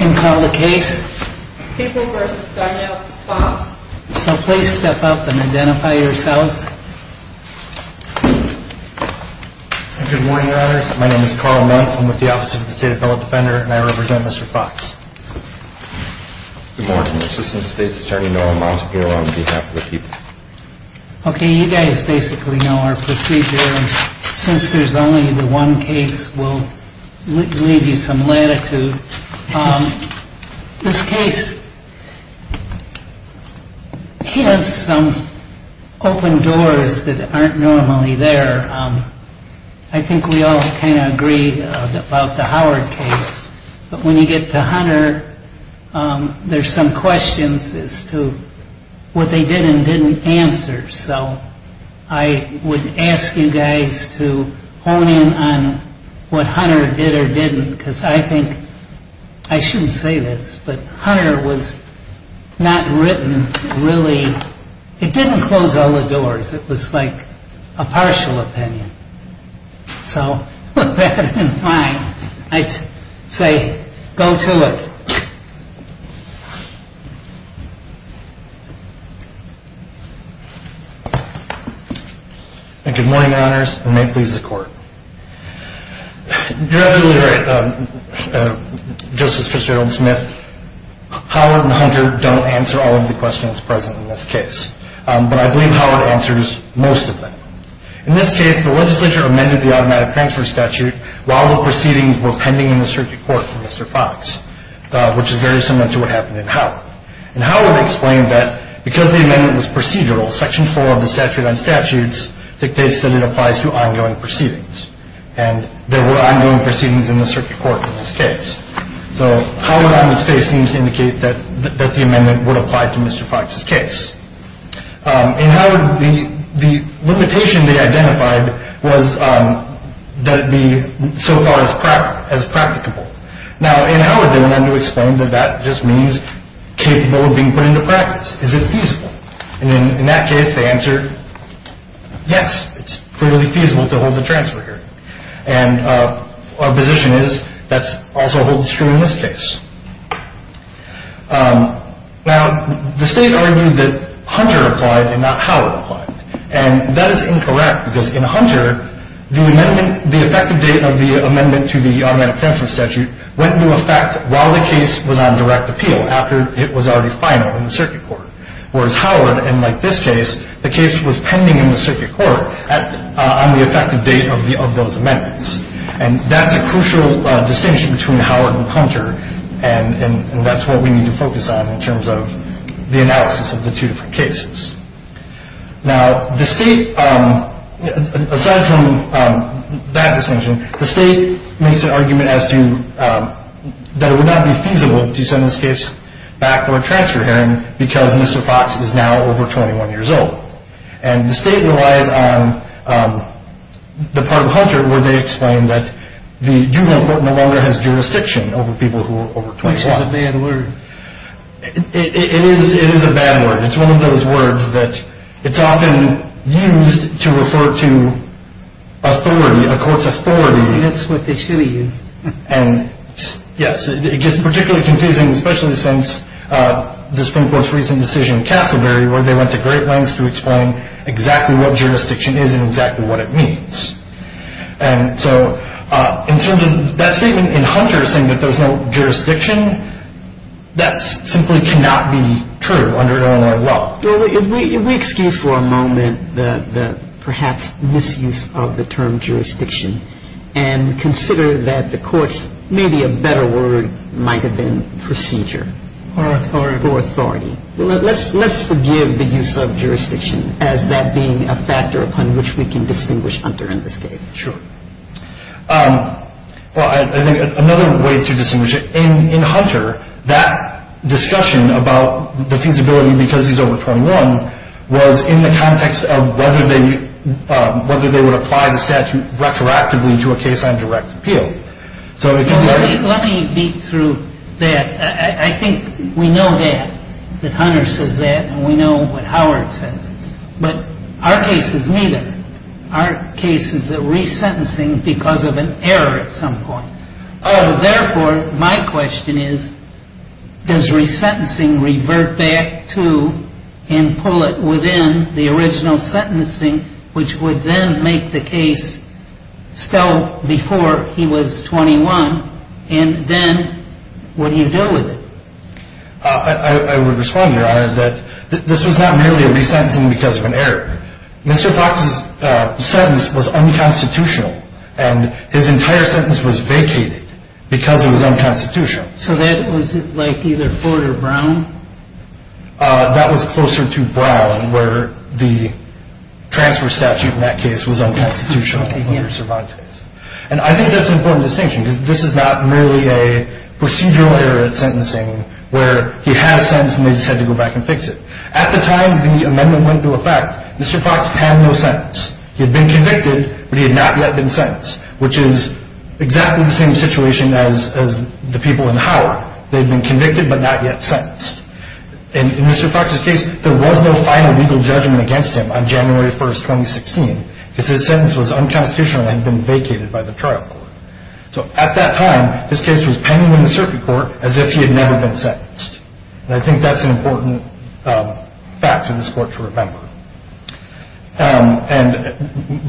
and call the case People v. Darnielle Fox. So please step up and identify yourselves. Good morning, your honors. My name is Carl Monk. I'm with the Office of the State Appellate Defender, and I represent Mr. Fox. Good morning. Assistant State's Attorney Norm Montague on behalf of the People. Okay, you guys basically know our procedure, and since there's only the one case, we'll leave you some latitude. This case has some open doors that aren't normally there. I think we all kind of agree about the Howard case, but when you get to Hunter, there's some questions as to what they did and didn't answer. So I would ask you guys to hone in on what Hunter did or didn't, because I think, I shouldn't say this, but Hunter was not written really, it didn't close all the doors. It was like a partial opinion. So with that in mind, I say, go to it. And good morning, your honors, and may it please the court. You're absolutely right, Justice Fitzgerald-Smith. Howard and Hunter don't answer all of the questions present in this case, but I believe Howard answers most of them. In this case, the legislature amended the automatic transfer statute while the proceedings were pending in the circuit court for Mr. Fox, which is very similar to what happened in Howard. And Howard explained that because the amendment was procedural, Section 4 of the Statute on Statutes dictates that it applies to ongoing proceedings, and there were ongoing proceedings in the circuit court in this case. So Howard, on its face, seems to indicate that the amendment would apply to Mr. Fox's case. In Howard, the limitation they identified was that it be so far as practicable. Now, in Howard, they went on to explain that that just means capable of being put into practice. Is it feasible? And in that case, they answered, yes, it's clearly feasible to hold the transfer here. And our position is that also holds true in this case. Now, the state argued that Hunter applied and not Howard applied, and that is incorrect because in Hunter, the effective date of the amendment to the automatic transfer statute went into effect while the case was on direct appeal after it was already final in the circuit court. Whereas Howard, unlike this case, the case was pending in the circuit court on the effective date of those amendments. And that's a crucial distinction between Howard and Hunter, and that's what we need to focus on in terms of the analysis of the two different cases. Now, the state, aside from that distinction, the state makes an argument that it would not be feasible to send this case back for a transfer hearing because Mr. Fox is now over 21 years old. And the state relies on the part of Hunter where they explain that the juvenile court no longer has jurisdiction over people who are over 21. Which is a bad word. It is a bad word. It's one of those words that it's often used to refer to authority, a court's authority. That's what they usually use. And, yes, it gets particularly confusing, especially since the Supreme Court's recent decision in Casselberry where they went to great lengths to explain exactly what jurisdiction is and exactly what it means. And so in terms of that statement in Hunter saying that there's no jurisdiction, that simply cannot be true under Illinois law. Well, if we excuse for a moment the perhaps misuse of the term jurisdiction and consider that the court's maybe a better word might have been procedure. Or authority. Or authority. Let's forgive the use of jurisdiction as that being a factor upon which we can distinguish Hunter in this case. Sure. Well, I think another way to distinguish it in Hunter, that discussion about the feasibility because he's over 21 was in the context of whether they would apply the statute retroactively to a case on direct appeal. Let me beat through that. I think we know that. That Hunter says that. And we know what Howard says. But our case is neither. Our case is a resentencing because of an error at some point. Therefore, my question is, does resentencing revert back to and pull it within the original sentencing, which would then make the case still before he was 21? And then what do you do with it? I would respond, Your Honor, that this was not merely a resentencing because of an error. Mr. Fox's sentence was unconstitutional. And his entire sentence was vacated because it was unconstitutional. So that was like either Ford or Brown? That was closer to Brown where the transfer statute in that case was unconstitutional under Cervantes. And I think that's an important distinction because this is not merely a procedural error at sentencing where he had a sentence and they just had to go back and fix it. At the time the amendment went into effect, Mr. Fox had no sentence. He had been convicted, but he had not yet been sentenced, which is exactly the same situation as the people in Howard. They had been convicted but not yet sentenced. In Mr. Fox's case, there was no final legal judgment against him on January 1, 2016, because his sentence was unconstitutional and had been vacated by the trial court. So at that time, his case was pending in the circuit court as if he had never been sentenced. And I think that's an important fact for this Court to remember. And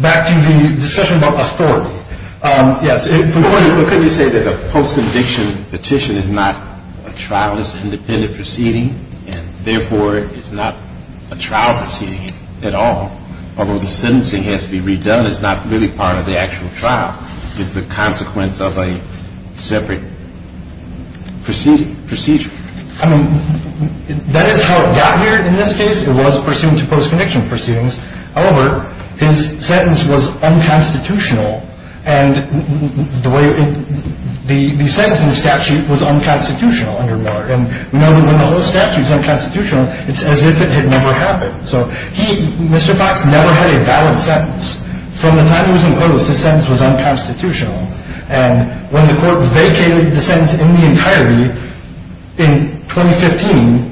back to the discussion about authority. Yes. Well, couldn't you say that a post-conviction petition is not a trial. It's an independent proceeding and, therefore, it's not a trial proceeding at all. Although the sentencing has to be redone, it's not really part of the actual trial. It's the consequence of a separate procedure. I mean, that is how it got here in this case. It was pursuant to post-conviction proceedings. However, his sentence was unconstitutional. And the sentence in the statute was unconstitutional under Miller. And we know that when the whole statute is unconstitutional, it's as if it had never happened. So he, Mr. Fox, never had a valid sentence. From the time he was imposed, his sentence was unconstitutional. And when the Court vacated the sentence in the entirety in 2015,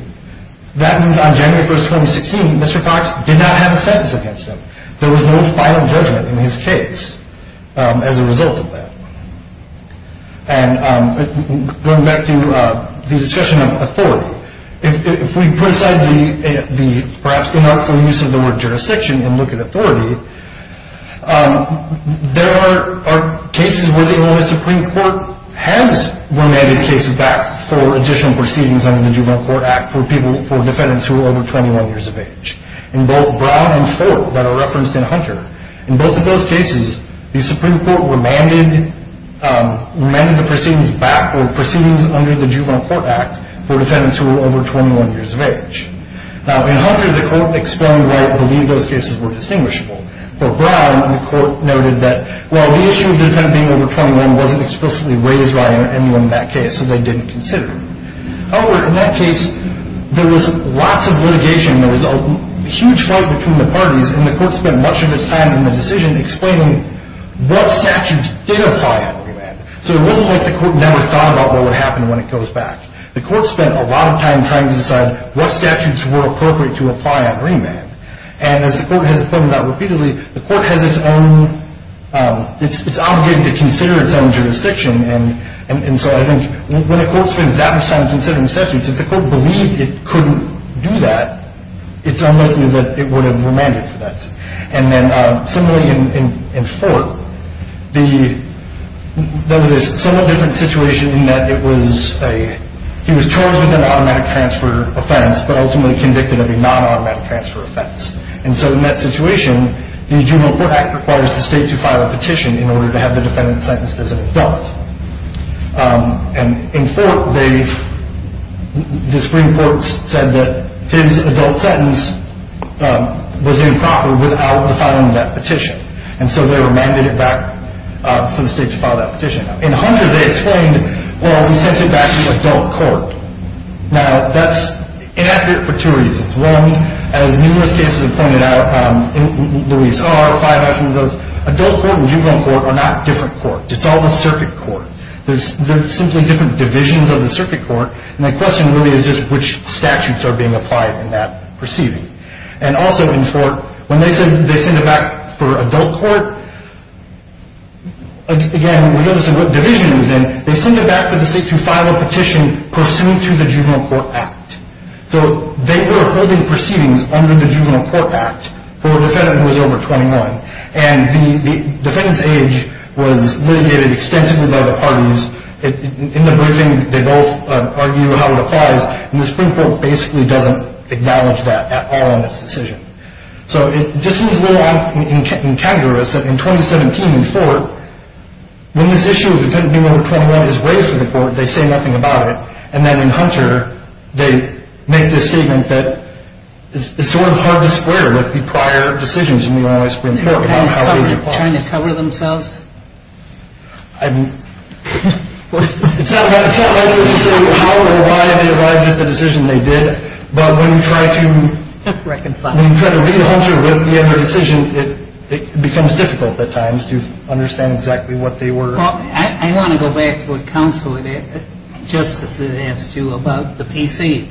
that means on January 1, 2016, Mr. Fox did not have a sentence against him. There was no final judgment in his case as a result of that. And going back to the discussion of authority, if we put aside the perhaps unhelpful use of the word jurisdiction and look at authority, there are cases where the Illinois Supreme Court has remanded cases back for additional proceedings under the Juvenile Court Act for defendants who are over 21 years of age. In both Brown and Ford that are referenced in Hunter, in both of those cases, the Supreme Court remanded the proceedings back or proceedings under the Juvenile Court Act for defendants who are over 21 years of age. Now, in Hunter, the Court explained why it believed those cases were distinguishable. For Brown, the Court noted that, well, the issue of the defendant being over 21 wasn't explicitly raised by anyone in that case, so they didn't consider him. However, in that case, there was lots of litigation. There was a huge fight between the parties. And the Court spent much of its time in the decision explaining what statutes did apply under remand. So it wasn't like the Court never thought about what would happen when it goes back. The Court spent a lot of time trying to decide what statutes were appropriate to apply under remand. And as the Court has pointed out repeatedly, the Court has its own – it's obligated to consider its own jurisdiction. And so I think when the Court spends that much time considering statutes, if the Court believed it couldn't do that, it's unlikely that it would have remanded for that. And then similarly in Fort, there was a somewhat different situation in that it was a – he was charged with an automatic transfer offense, but ultimately convicted of a non-automatic transfer offense. And so in that situation, the Juvenile Court Act requires the state to file a petition in order to have the defendant sentenced as an adult. And in Fort, they – the Supreme Court said that his adult sentence was improper without the filing of that petition. And so they remanded it back for the state to file that petition. In Hunter, they explained, well, he sends it back to the adult court. Now, that's inaccurate for two reasons. One, as numerous cases have pointed out, and Luis R., five actually of those, adult court and juvenile court are not different courts. It's all the circuit court. They're simply different divisions of the circuit court, and the question really is just which statutes are being applied in that proceeding. And also in Fort, when they said they send it back for adult court, again, we know this is what division he was in. They send it back for the state to file a petition pursuant to the Juvenile Court Act. So they were holding proceedings under the Juvenile Court Act for a defendant who was over 21, and the defendant's age was litigated extensively by the parties. In the briefing, they both argue how it applies, and the Supreme Court basically doesn't acknowledge that at all in its decision. So it just seems a little incongruous that in 2017 in Fort, when this issue of a defendant being over 21 is raised to the court, they say nothing about it. And then in Hunter, they make this statement that it's sort of hard to square with the prior decisions in the Illinois Supreme Court on how age applies. They were trying to cover themselves? I mean, it's not necessarily how or why they arrived at the decision they did, but when you try to read Hunter with the other decisions, it becomes difficult at times to understand exactly what they were. Well, I want to go back to what Counselor Justice had asked you about the PC.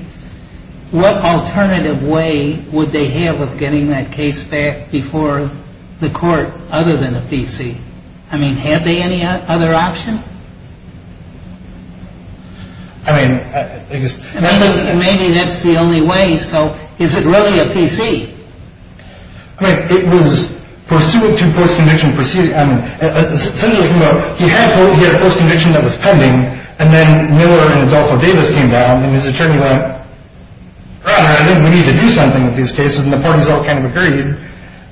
What alternative way would they have of getting that case back before the court other than a PC? I mean, had they any other option? I mean, I guess. Maybe that's the only way. So is it really a PC? I mean, it was pursuant to post-conviction proceedings. He had a post-conviction that was pending, and then Miller and Adolfo Davis came down, and his attorney went, Your Honor, I think we need to do something with these cases, and the parties all kind of agreed,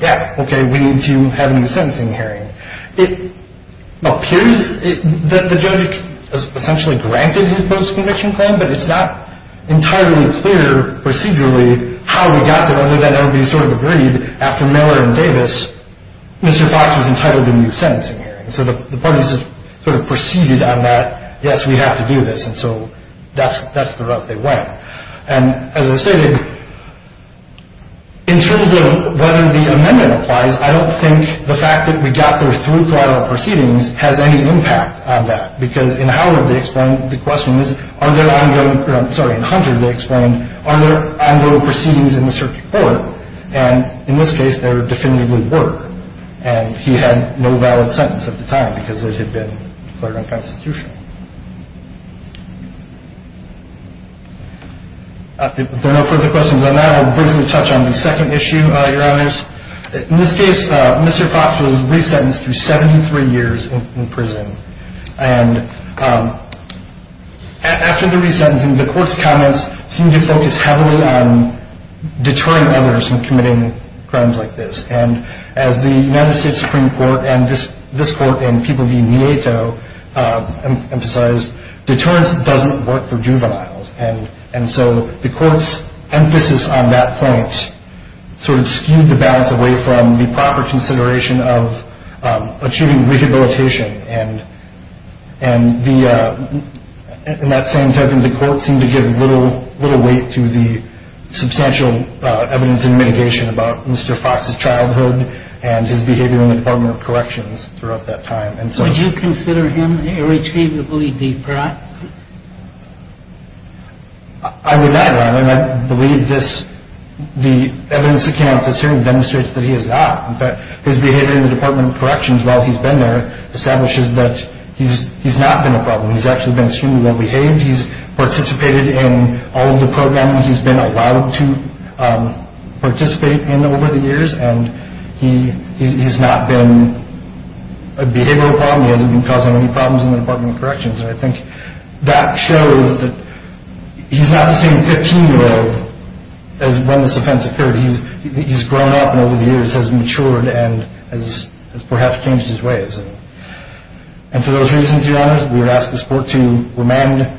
yeah, okay, we need to have a new sentencing hearing. It appears that the judge essentially granted his post-conviction claim, but it's not entirely clear procedurally how he got there other than everybody sort of agreed after Miller and Davis, Mr. Fox was entitled to a new sentencing hearing. So the parties sort of proceeded on that. Yes, we have to do this, and so that's the route they went. And as I stated, in terms of whether the amendment applies, I don't think the fact that we got there through collateral proceedings has any impact on that because in Howard they explained the question is are there ongoing – sorry, in Hunter they explained are there ongoing proceedings in the circuit court, and in this case there definitively were, and he had no valid sentence at the time because it had been declared unconstitutional. If there are no further questions on that, I'll briefly touch on the second issue, Your Honors. In this case, Mr. Fox was resentenced to 73 years in prison, and after the resentencing, the court's comments seemed to focus heavily on deterring others from committing crimes like this, and as the United States Supreme Court and this court and people via NATO emphasized, deterrence doesn't work for juveniles, and so the court's emphasis on that point sort of skewed the balance away from the proper consideration of achieving rehabilitation, and in that same time, the court seemed to give little weight to the substantial evidence and mitigation about Mr. Fox's childhood and his behavior in the Department of Corrections throughout that time. So would you consider him irretrievably deprived? I would not, Your Honor, and I believe the evidence that came out of this hearing demonstrates that he is not. In fact, his behavior in the Department of Corrections while he's been there establishes that he's not been a problem. He's actually been extremely well-behaved. He's participated in all of the programming he's been allowed to participate in over the years, and he's not been a behavioral problem. He hasn't been causing any problems in the Department of Corrections, and I think that shows that he's not the same 15-year-old as when this offense occurred. He's grown up and over the years has matured and has perhaps changed his ways. And for those reasons, Your Honor, we would ask this court to remand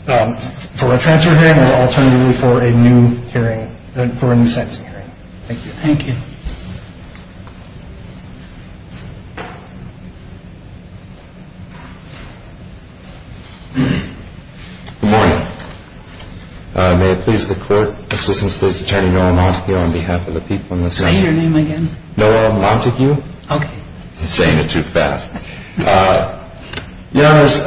for a transfer hearing or alternatively for a new hearing, for a new sentencing hearing. Thank you. Thank you. Good morning. May it please the court, Assistant State's Attorney Noah Montague on behalf of the people in this room. Say your name again. Noah Montague. Okay. He's saying it too fast. Your Honors,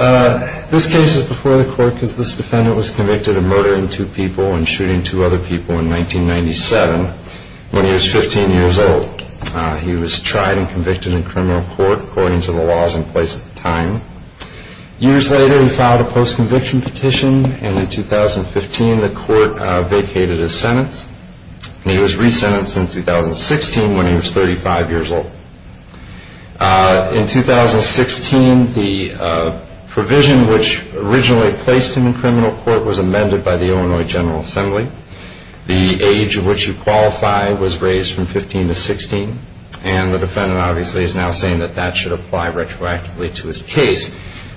this case is before the court because this defendant was convicted of murdering two people and shooting two other people in 1997 when he was 15 years old. He was tried and convicted in criminal court according to the laws in place at the time. Years later, he filed a post-conviction petition, and in 2015 the court vacated his sentence. He was resentenced in 2016 when he was 35 years old. In 2016, the provision which originally placed him in criminal court was amended by the Illinois General Assembly. The age at which he qualified was raised from 15 to 16, and the defendant obviously is now saying that that should apply retroactively to his case.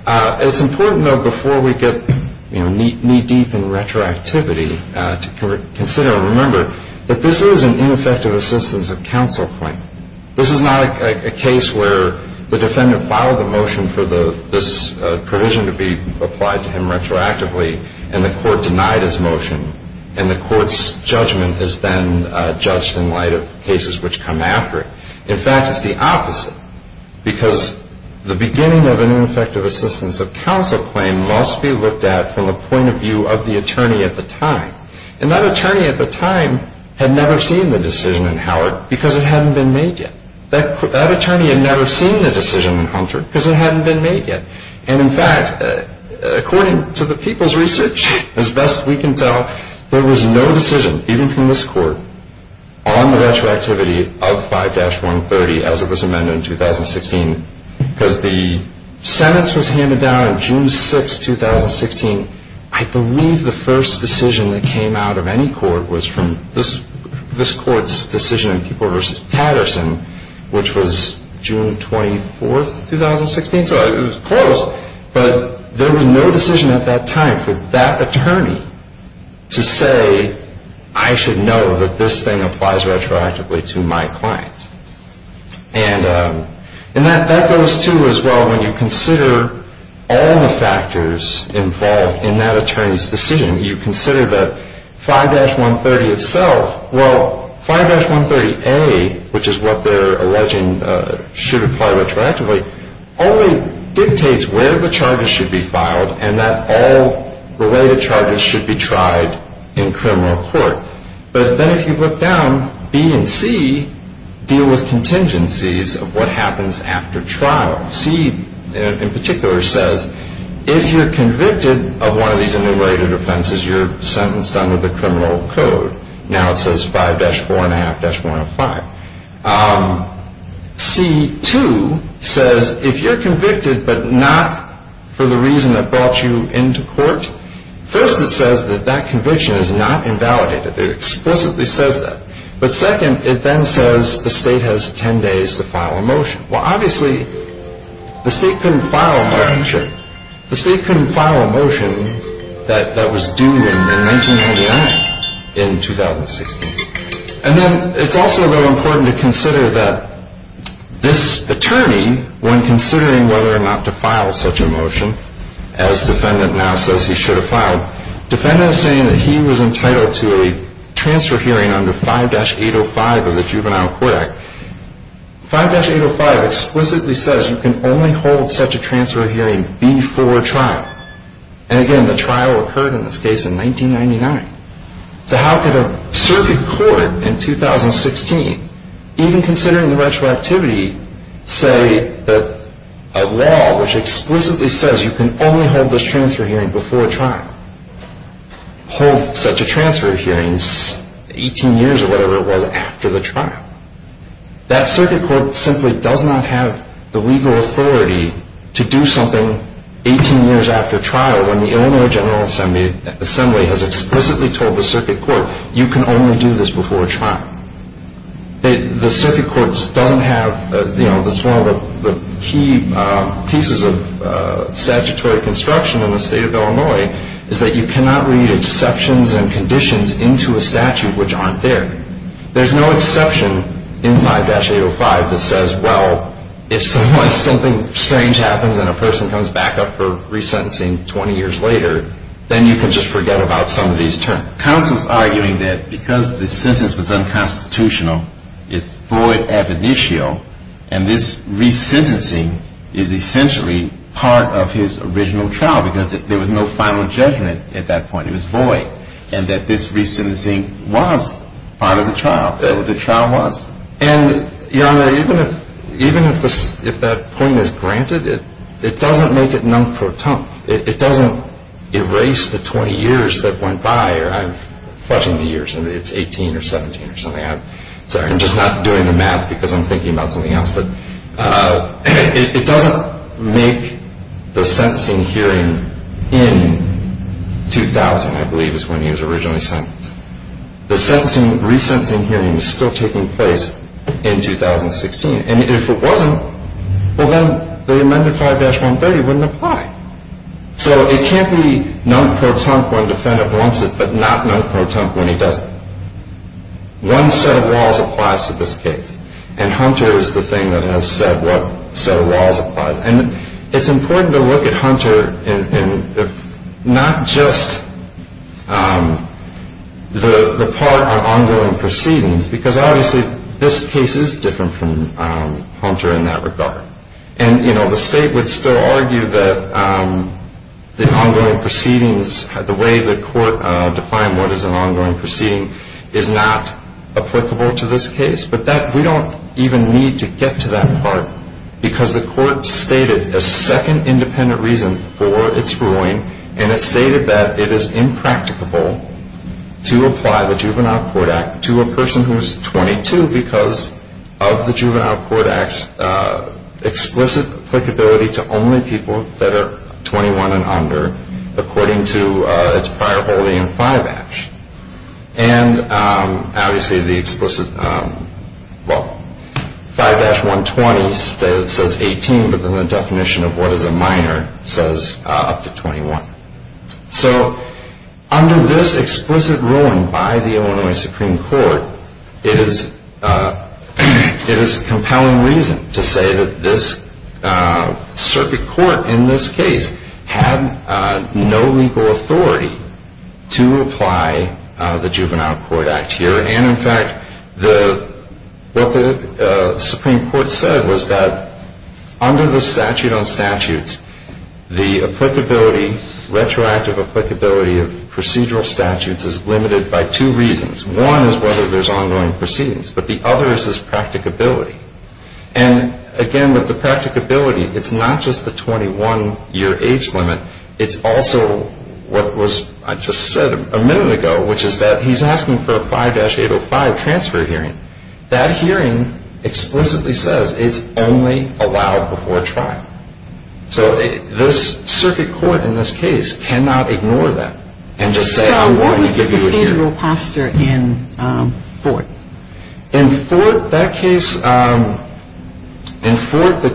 It's important, though, before we get knee-deep in retroactivity to consider and remember that this is an ineffective assistance of counsel claim. This is not a case where the defendant filed a motion for this provision to be applied to him retroactively and the court denied his motion and the court's judgment is then judged in light of cases which come after it. In fact, it's the opposite because the beginning of an ineffective assistance of counsel claim must be looked at from a point of view of the attorney at the time. And that attorney at the time had never seen the decision in Howard because it hadn't been made yet. That attorney had never seen the decision in Hunter because it hadn't been made yet. And, in fact, according to the people's research, as best we can tell, there was no decision, even from this court, on the retroactivity of 5-130 as it was amended in 2016 because the sentence was handed down on June 6, 2016. I believe the first decision that came out of any court was from this court's decision in People v. Patterson, which was June 24, 2016. So it was close, but there was no decision at that time for that attorney to say, I should know that this thing applies retroactively to my client. And that goes, too, as well, when you consider all the factors involved in that attorney's decision. You consider the 5-130 itself. Well, 5-130A, which is what they're alleging should apply retroactively, only dictates where the charges should be filed and that all related charges should be tried in criminal court. But then if you look down, B and C deal with contingencies of what happens after trial. C, in particular, says if you're convicted of one of these enumerated offenses, you're sentenced under the criminal code. Now it says 5-4.5-105. C2 says if you're convicted but not for the reason that brought you into court, first it says that that conviction is not invalidated. It explicitly says that. But second, it then says the state has 10 days to file a motion. Well, obviously, the state couldn't file a motion that was due in 1999 in 2016. And then it's also, though, important to consider that this attorney, when considering whether or not to file such a motion, as defendant now says he should have filed, defendant is saying that he was entitled to a transfer hearing under 5-805 of the Juvenile Court Act. 5-805 explicitly says you can only hold such a transfer hearing before trial. And again, the trial occurred in this case in 1999. So how could a circuit court in 2016, even considering the retroactivity, say that a law which explicitly says you can only hold this transfer hearing before trial, hold such a transfer hearing 18 years or whatever it was after the trial? That circuit court simply does not have the legal authority to do something 18 years after trial when the Illinois General Assembly has explicitly told the circuit court you can only do this before trial. The circuit court doesn't have, you know, one of the key pieces of statutory construction in the state of Illinois is that you cannot read exceptions and conditions into a statute which aren't there. There's no exception in 5-805 that says, well, if something strange happens and a person comes back up for resentencing 20 years later, then you can just forget about some of these terms. Counsel's arguing that because the sentence was unconstitutional, it's void ab initio, and this resentencing is essentially part of his original trial because there was no final judgment at that point. It was void, and that this resentencing was part of the trial. That's what the trial was. And, Your Honor, even if that point is granted, it doesn't make it non-perturbed. It doesn't erase the 20 years that went by. I'm fudging the years. It's 18 or 17 or something. I'm sorry. I'm just not doing the math because I'm thinking about something else. But it doesn't make the sentencing hearing in 2000, I believe, is when he was originally sentenced. The resentencing hearing is still taking place in 2016. And if it wasn't, well, then the amended 5-130 wouldn't apply. So it can't be non-perturbed when a defendant wants it but not non-perturbed when he doesn't. One set of laws applies to this case, and Hunter is the thing that has said what set of laws applies. And it's important to look at Hunter in not just the part on ongoing proceedings because obviously this case is different from Hunter in that regard. And, you know, the state would still argue that the ongoing proceedings, the way the court defined what is an ongoing proceeding is not applicable to this case. But we don't even need to get to that part because the court stated a second independent reason for its ruling, and it stated that it is impracticable to apply the Juvenile Court Act to a person who is 22 because of the Juvenile Court Act's explicit applicability to only people that are 21 and under according to its prior holding in 5-. And obviously the explicit, well, 5-120 says 18 but then the definition of what is a minor says up to 21. So under this explicit ruling by the Illinois Supreme Court, it is a compelling reason to say that this circuit court in this case had no legal authority to apply the Juvenile Court Act here. And, in fact, what the Supreme Court said was that under the statute on statutes, the applicability, retroactive applicability of procedural statutes is limited by two reasons. One is whether there's ongoing proceedings, but the other is its practicability. And, again, with the practicability, it's not just the 21-year age limit. It's also what I just said a minute ago, which is that he's asking for a 5-805 transfer hearing. That hearing explicitly says it's only allowed before trial. So this circuit court in this case cannot ignore that and just say I want to give you a hearing. So what was the procedural posture in Fort? In Fort, the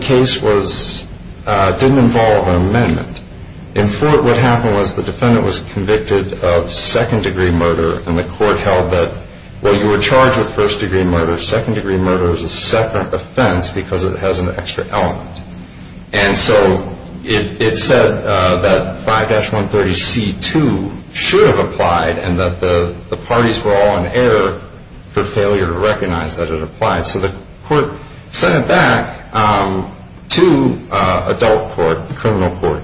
case didn't involve an amendment. In Fort, what happened was the defendant was convicted of second-degree murder, and the court held that, well, you were charged with first-degree murder. Second-degree murder is a separate offense because it has an extra element. And so it said that 5-130C2 should have applied and that the parties were all in error for failure to recognize that it applied. So the court sent it back to adult court, the criminal court,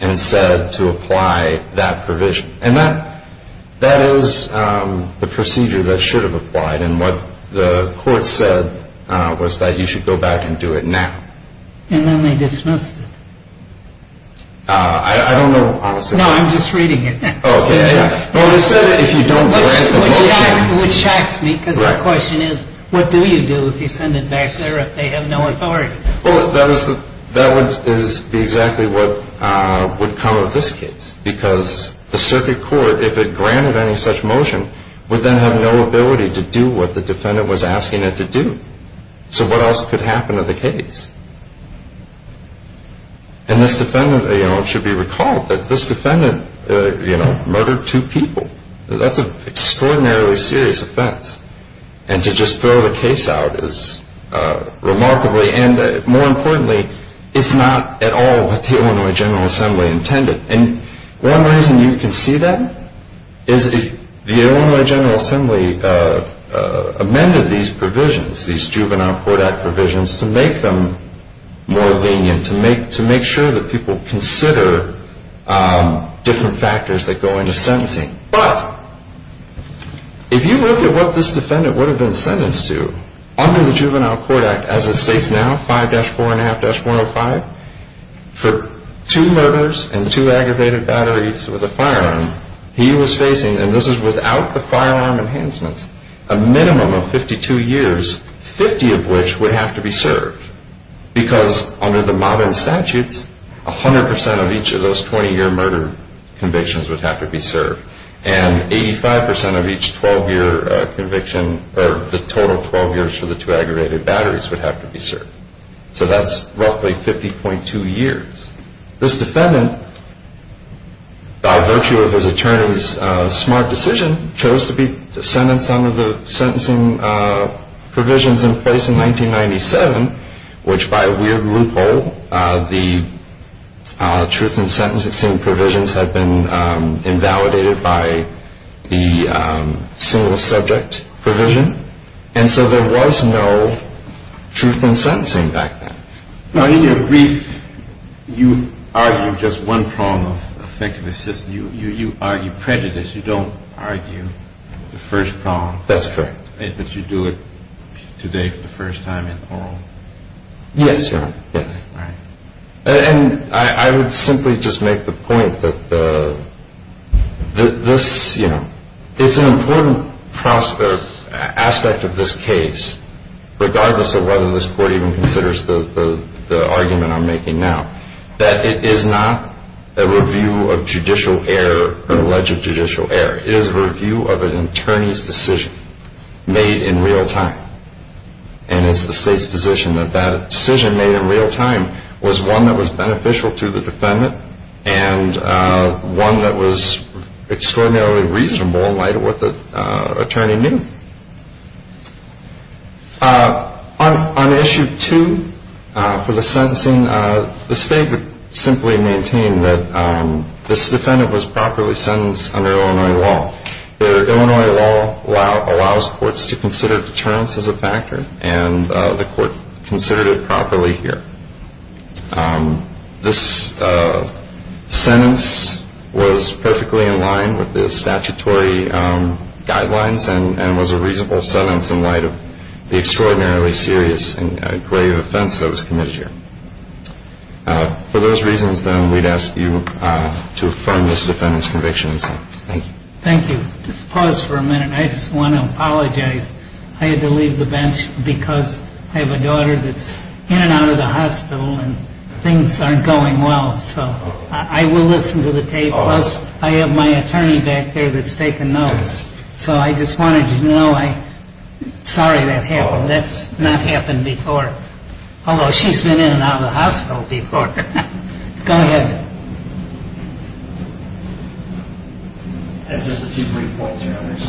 and said to apply that provision. And that is the procedure that should have applied. And what the court said was that you should go back and do it now. And then they dismissed it. I don't know, honestly. No, I'm just reading it. Oh, yeah, yeah. No, it said that if you don't grant the motion. Which shocks me because the question is what do you do if you send it back there if they have no authority? Well, that would be exactly what would come of this case because the circuit court, if it granted any such motion, would then have no ability to do what the defendant was asking it to do. So what else could happen to the case? And this defendant, you know, it should be recalled that this defendant, you know, murdered two people. That's an extraordinarily serious offense. And to just throw the case out is remarkably and more importantly it's not at all what the Illinois General Assembly intended. And one reason you can see that is the Illinois General Assembly amended these provisions, these Juvenile Court Act provisions to make them more lenient, to make sure that people consider different factors that go into sentencing. But if you look at what this defendant would have been sentenced to under the Juvenile Court Act as it states now, 5-4.5-105, for two murders and two aggravated batteries with a firearm, he was facing, and this is without the firearm enhancements, a minimum of 52 years, 50 of which would have to be served because under the modern statutes, 100% of each of those 20-year murder convictions would have to be served. And 85% of each 12-year conviction or the total 12 years for the two aggravated batteries would have to be served. So that's roughly 50.2 years. This defendant, by virtue of his attorney's smart decision, chose to be sentenced under the sentencing provisions in place in 1997, which by a weird loophole, the truth in sentencing provisions had been invalidated by the single subject provision. And so there was no truth in sentencing back then. Now, in your brief, you argue just one prong of effective assistance. You argue prejudice. You don't argue the first prong. That's correct. But you do it today for the first time in oral. Yes, Your Honor. Yes. All right. And I would simply just make the point that this, you know, it's an important aspect of this case, regardless of whether this court even considers the argument I'm making now, that it is not a review of judicial error or alleged judicial error. It is a review of an attorney's decision made in real time. And it's the State's position that that decision made in real time was one that was beneficial to the defendant and one that was extraordinarily reasonable in light of what the attorney knew. On issue two for the sentencing, the State would simply maintain that this defendant was properly sentenced under Illinois law. Illinois law allows courts to consider deterrence as a factor, and the court considered it properly here. This sentence was perfectly in line with the statutory guidelines and was a reasonable sentence in light of the extraordinarily serious and grave offense that was committed here. For those reasons, then, we'd ask you to affirm this defendant's conviction. Thank you. Thank you. Pause for a minute. I just want to apologize. I had to leave the bench because I have a daughter that's in and out of the hospital, and things aren't going well. So I will listen to the tape. Plus, I have my attorney back there that's taking notes. So I just wanted you to know I'm sorry that happened. That's not happened before, although she's been in and out of the hospital before. Go ahead. I have just a few brief points, Your Honors.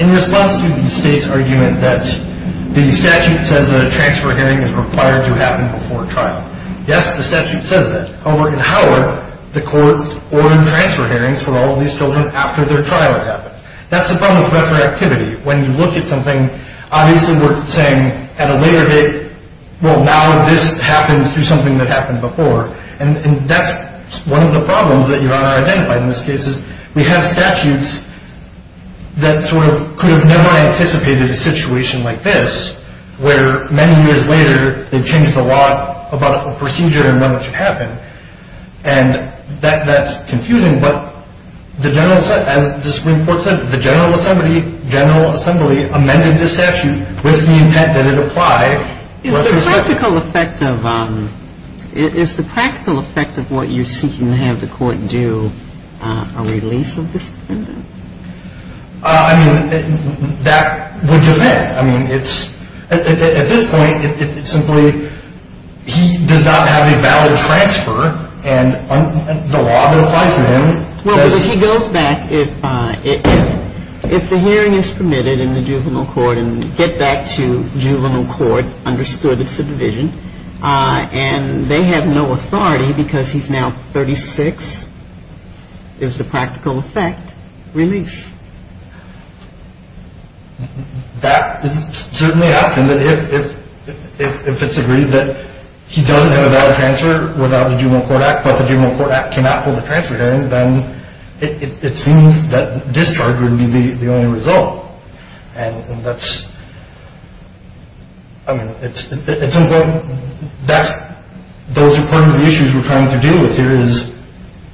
In response to the State's argument that the statute says that a transfer hearing is required to happen before trial, yes, the statute says that. However, in Howard, the court ordered transfer hearings for all of these children after their trial had happened. That's the problem with retroactivity. When you look at something, obviously we're saying at a later date, well, now this happens through something that happened before. And that's one of the problems that Your Honor identified in this case, is we have statutes that sort of could have never anticipated a situation like this, where many years later they've changed the law about a procedure and none of it should happen. And that's confusing. But as the Supreme Court said, the General Assembly amended the statute with the intent that it apply. Is the practical effect of what you're seeking to have the court do a release of this defendant? I mean, that would just be it. I mean, at this point, it's simply he does not have a valid transfer, and the law that applies to him says he doesn't have a valid transfer. Well, but he goes back, if the hearing is permitted in the juvenile court and get back to juvenile court, understood it's a division, and they have no authority because he's now 36, is the practical effect release? That is certainly an option. If it's agreed that he doesn't have a valid transfer without the juvenile court act, but the juvenile court act cannot hold a transfer hearing, then it seems that discharge would be the only result. And that's, I mean, it's important. Those are part of the issues we're trying to deal with here, is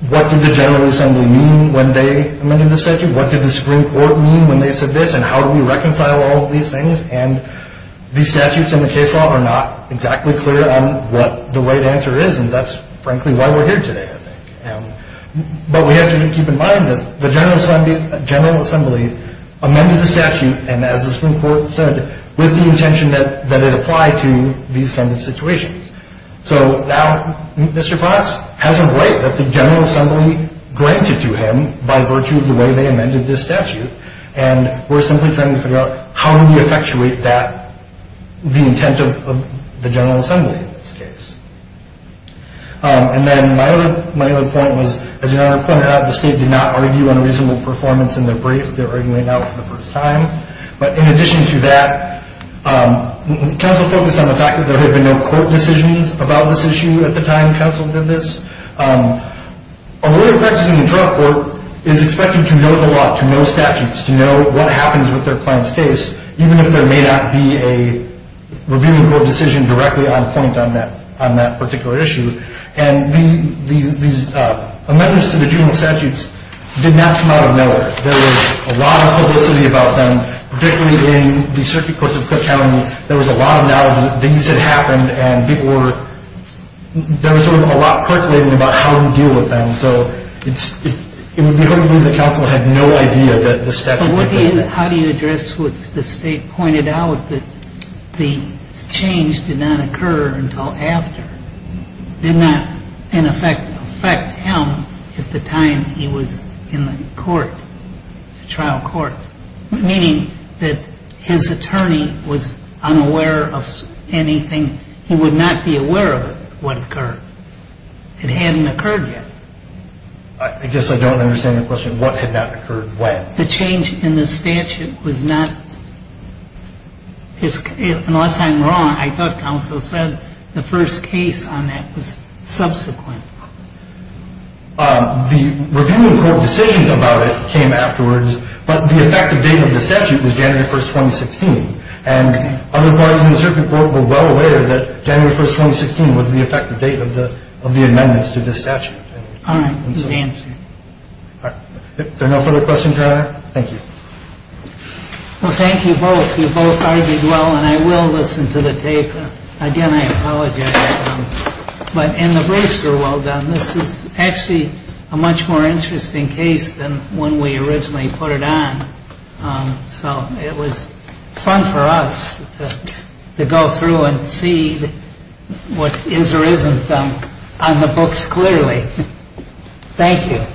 what did the General Assembly mean when they amended the statute? What did the Supreme Court mean when they said this? And how do we reconcile all of these things? And the statutes in the case law are not exactly clear on what the right answer is, and that's frankly why we're here today, I think. But we have to keep in mind that the General Assembly amended the statute, and as the Supreme Court said, with the intention that it apply to these kinds of situations. So now Mr. Fox has a right that the General Assembly granted to him by virtue of the way they amended this statute, and we're simply trying to figure out how do we effectuate that, the intent of the General Assembly in this case. And then my other point was, as your Honor pointed out, the state did not argue on a reasonable performance in their brief. They're arguing now for the first time. But in addition to that, counsel focused on the fact that there had been no court decisions about this issue at the time counsel did this. A lawyer practicing in trial court is expected to know the law, to know statutes, to know what happens with their client's case, even if there may not be a reviewable decision directly on point on that particular issue. And these amendments to the juvenile statutes did not come out of nowhere. There was a lot of publicity about them, particularly in the circuit courts of Cook County. There was a lot of knowledge that these had happened, and there was sort of a lot percolating about how to deal with them. So it would be hard to believe that counsel had no idea that the statute had been passed. But how do you address what the state pointed out, that the change did not occur until after, did not, in effect, affect him at the time he was in the court, trial court, meaning that his attorney was unaware of anything. He would not be aware of what occurred. It hadn't occurred yet. I guess I don't understand your question. What had not occurred when? The change in the statute was not, unless I'm wrong, I thought counsel said the first case on that was subsequent. It wasn't. Why was the change in the statute not after? The reviewing court decisions about it came afterwards, but the effective date of the statute was January 1st, 2016. And other parties in the circuit court were well aware that January 1st, 2016 was the effective date of the amendments to the statute. All right. Good answer. If there are no further questions, Your Honor, thank you. Well, thank you both. You both argued well, and I will listen to the tape. Again, I apologize. And the briefs are well done. This is actually a much more interesting case than when we originally put it on. So it was fun for us to go through and see what is or isn't on the books clearly. Thank you.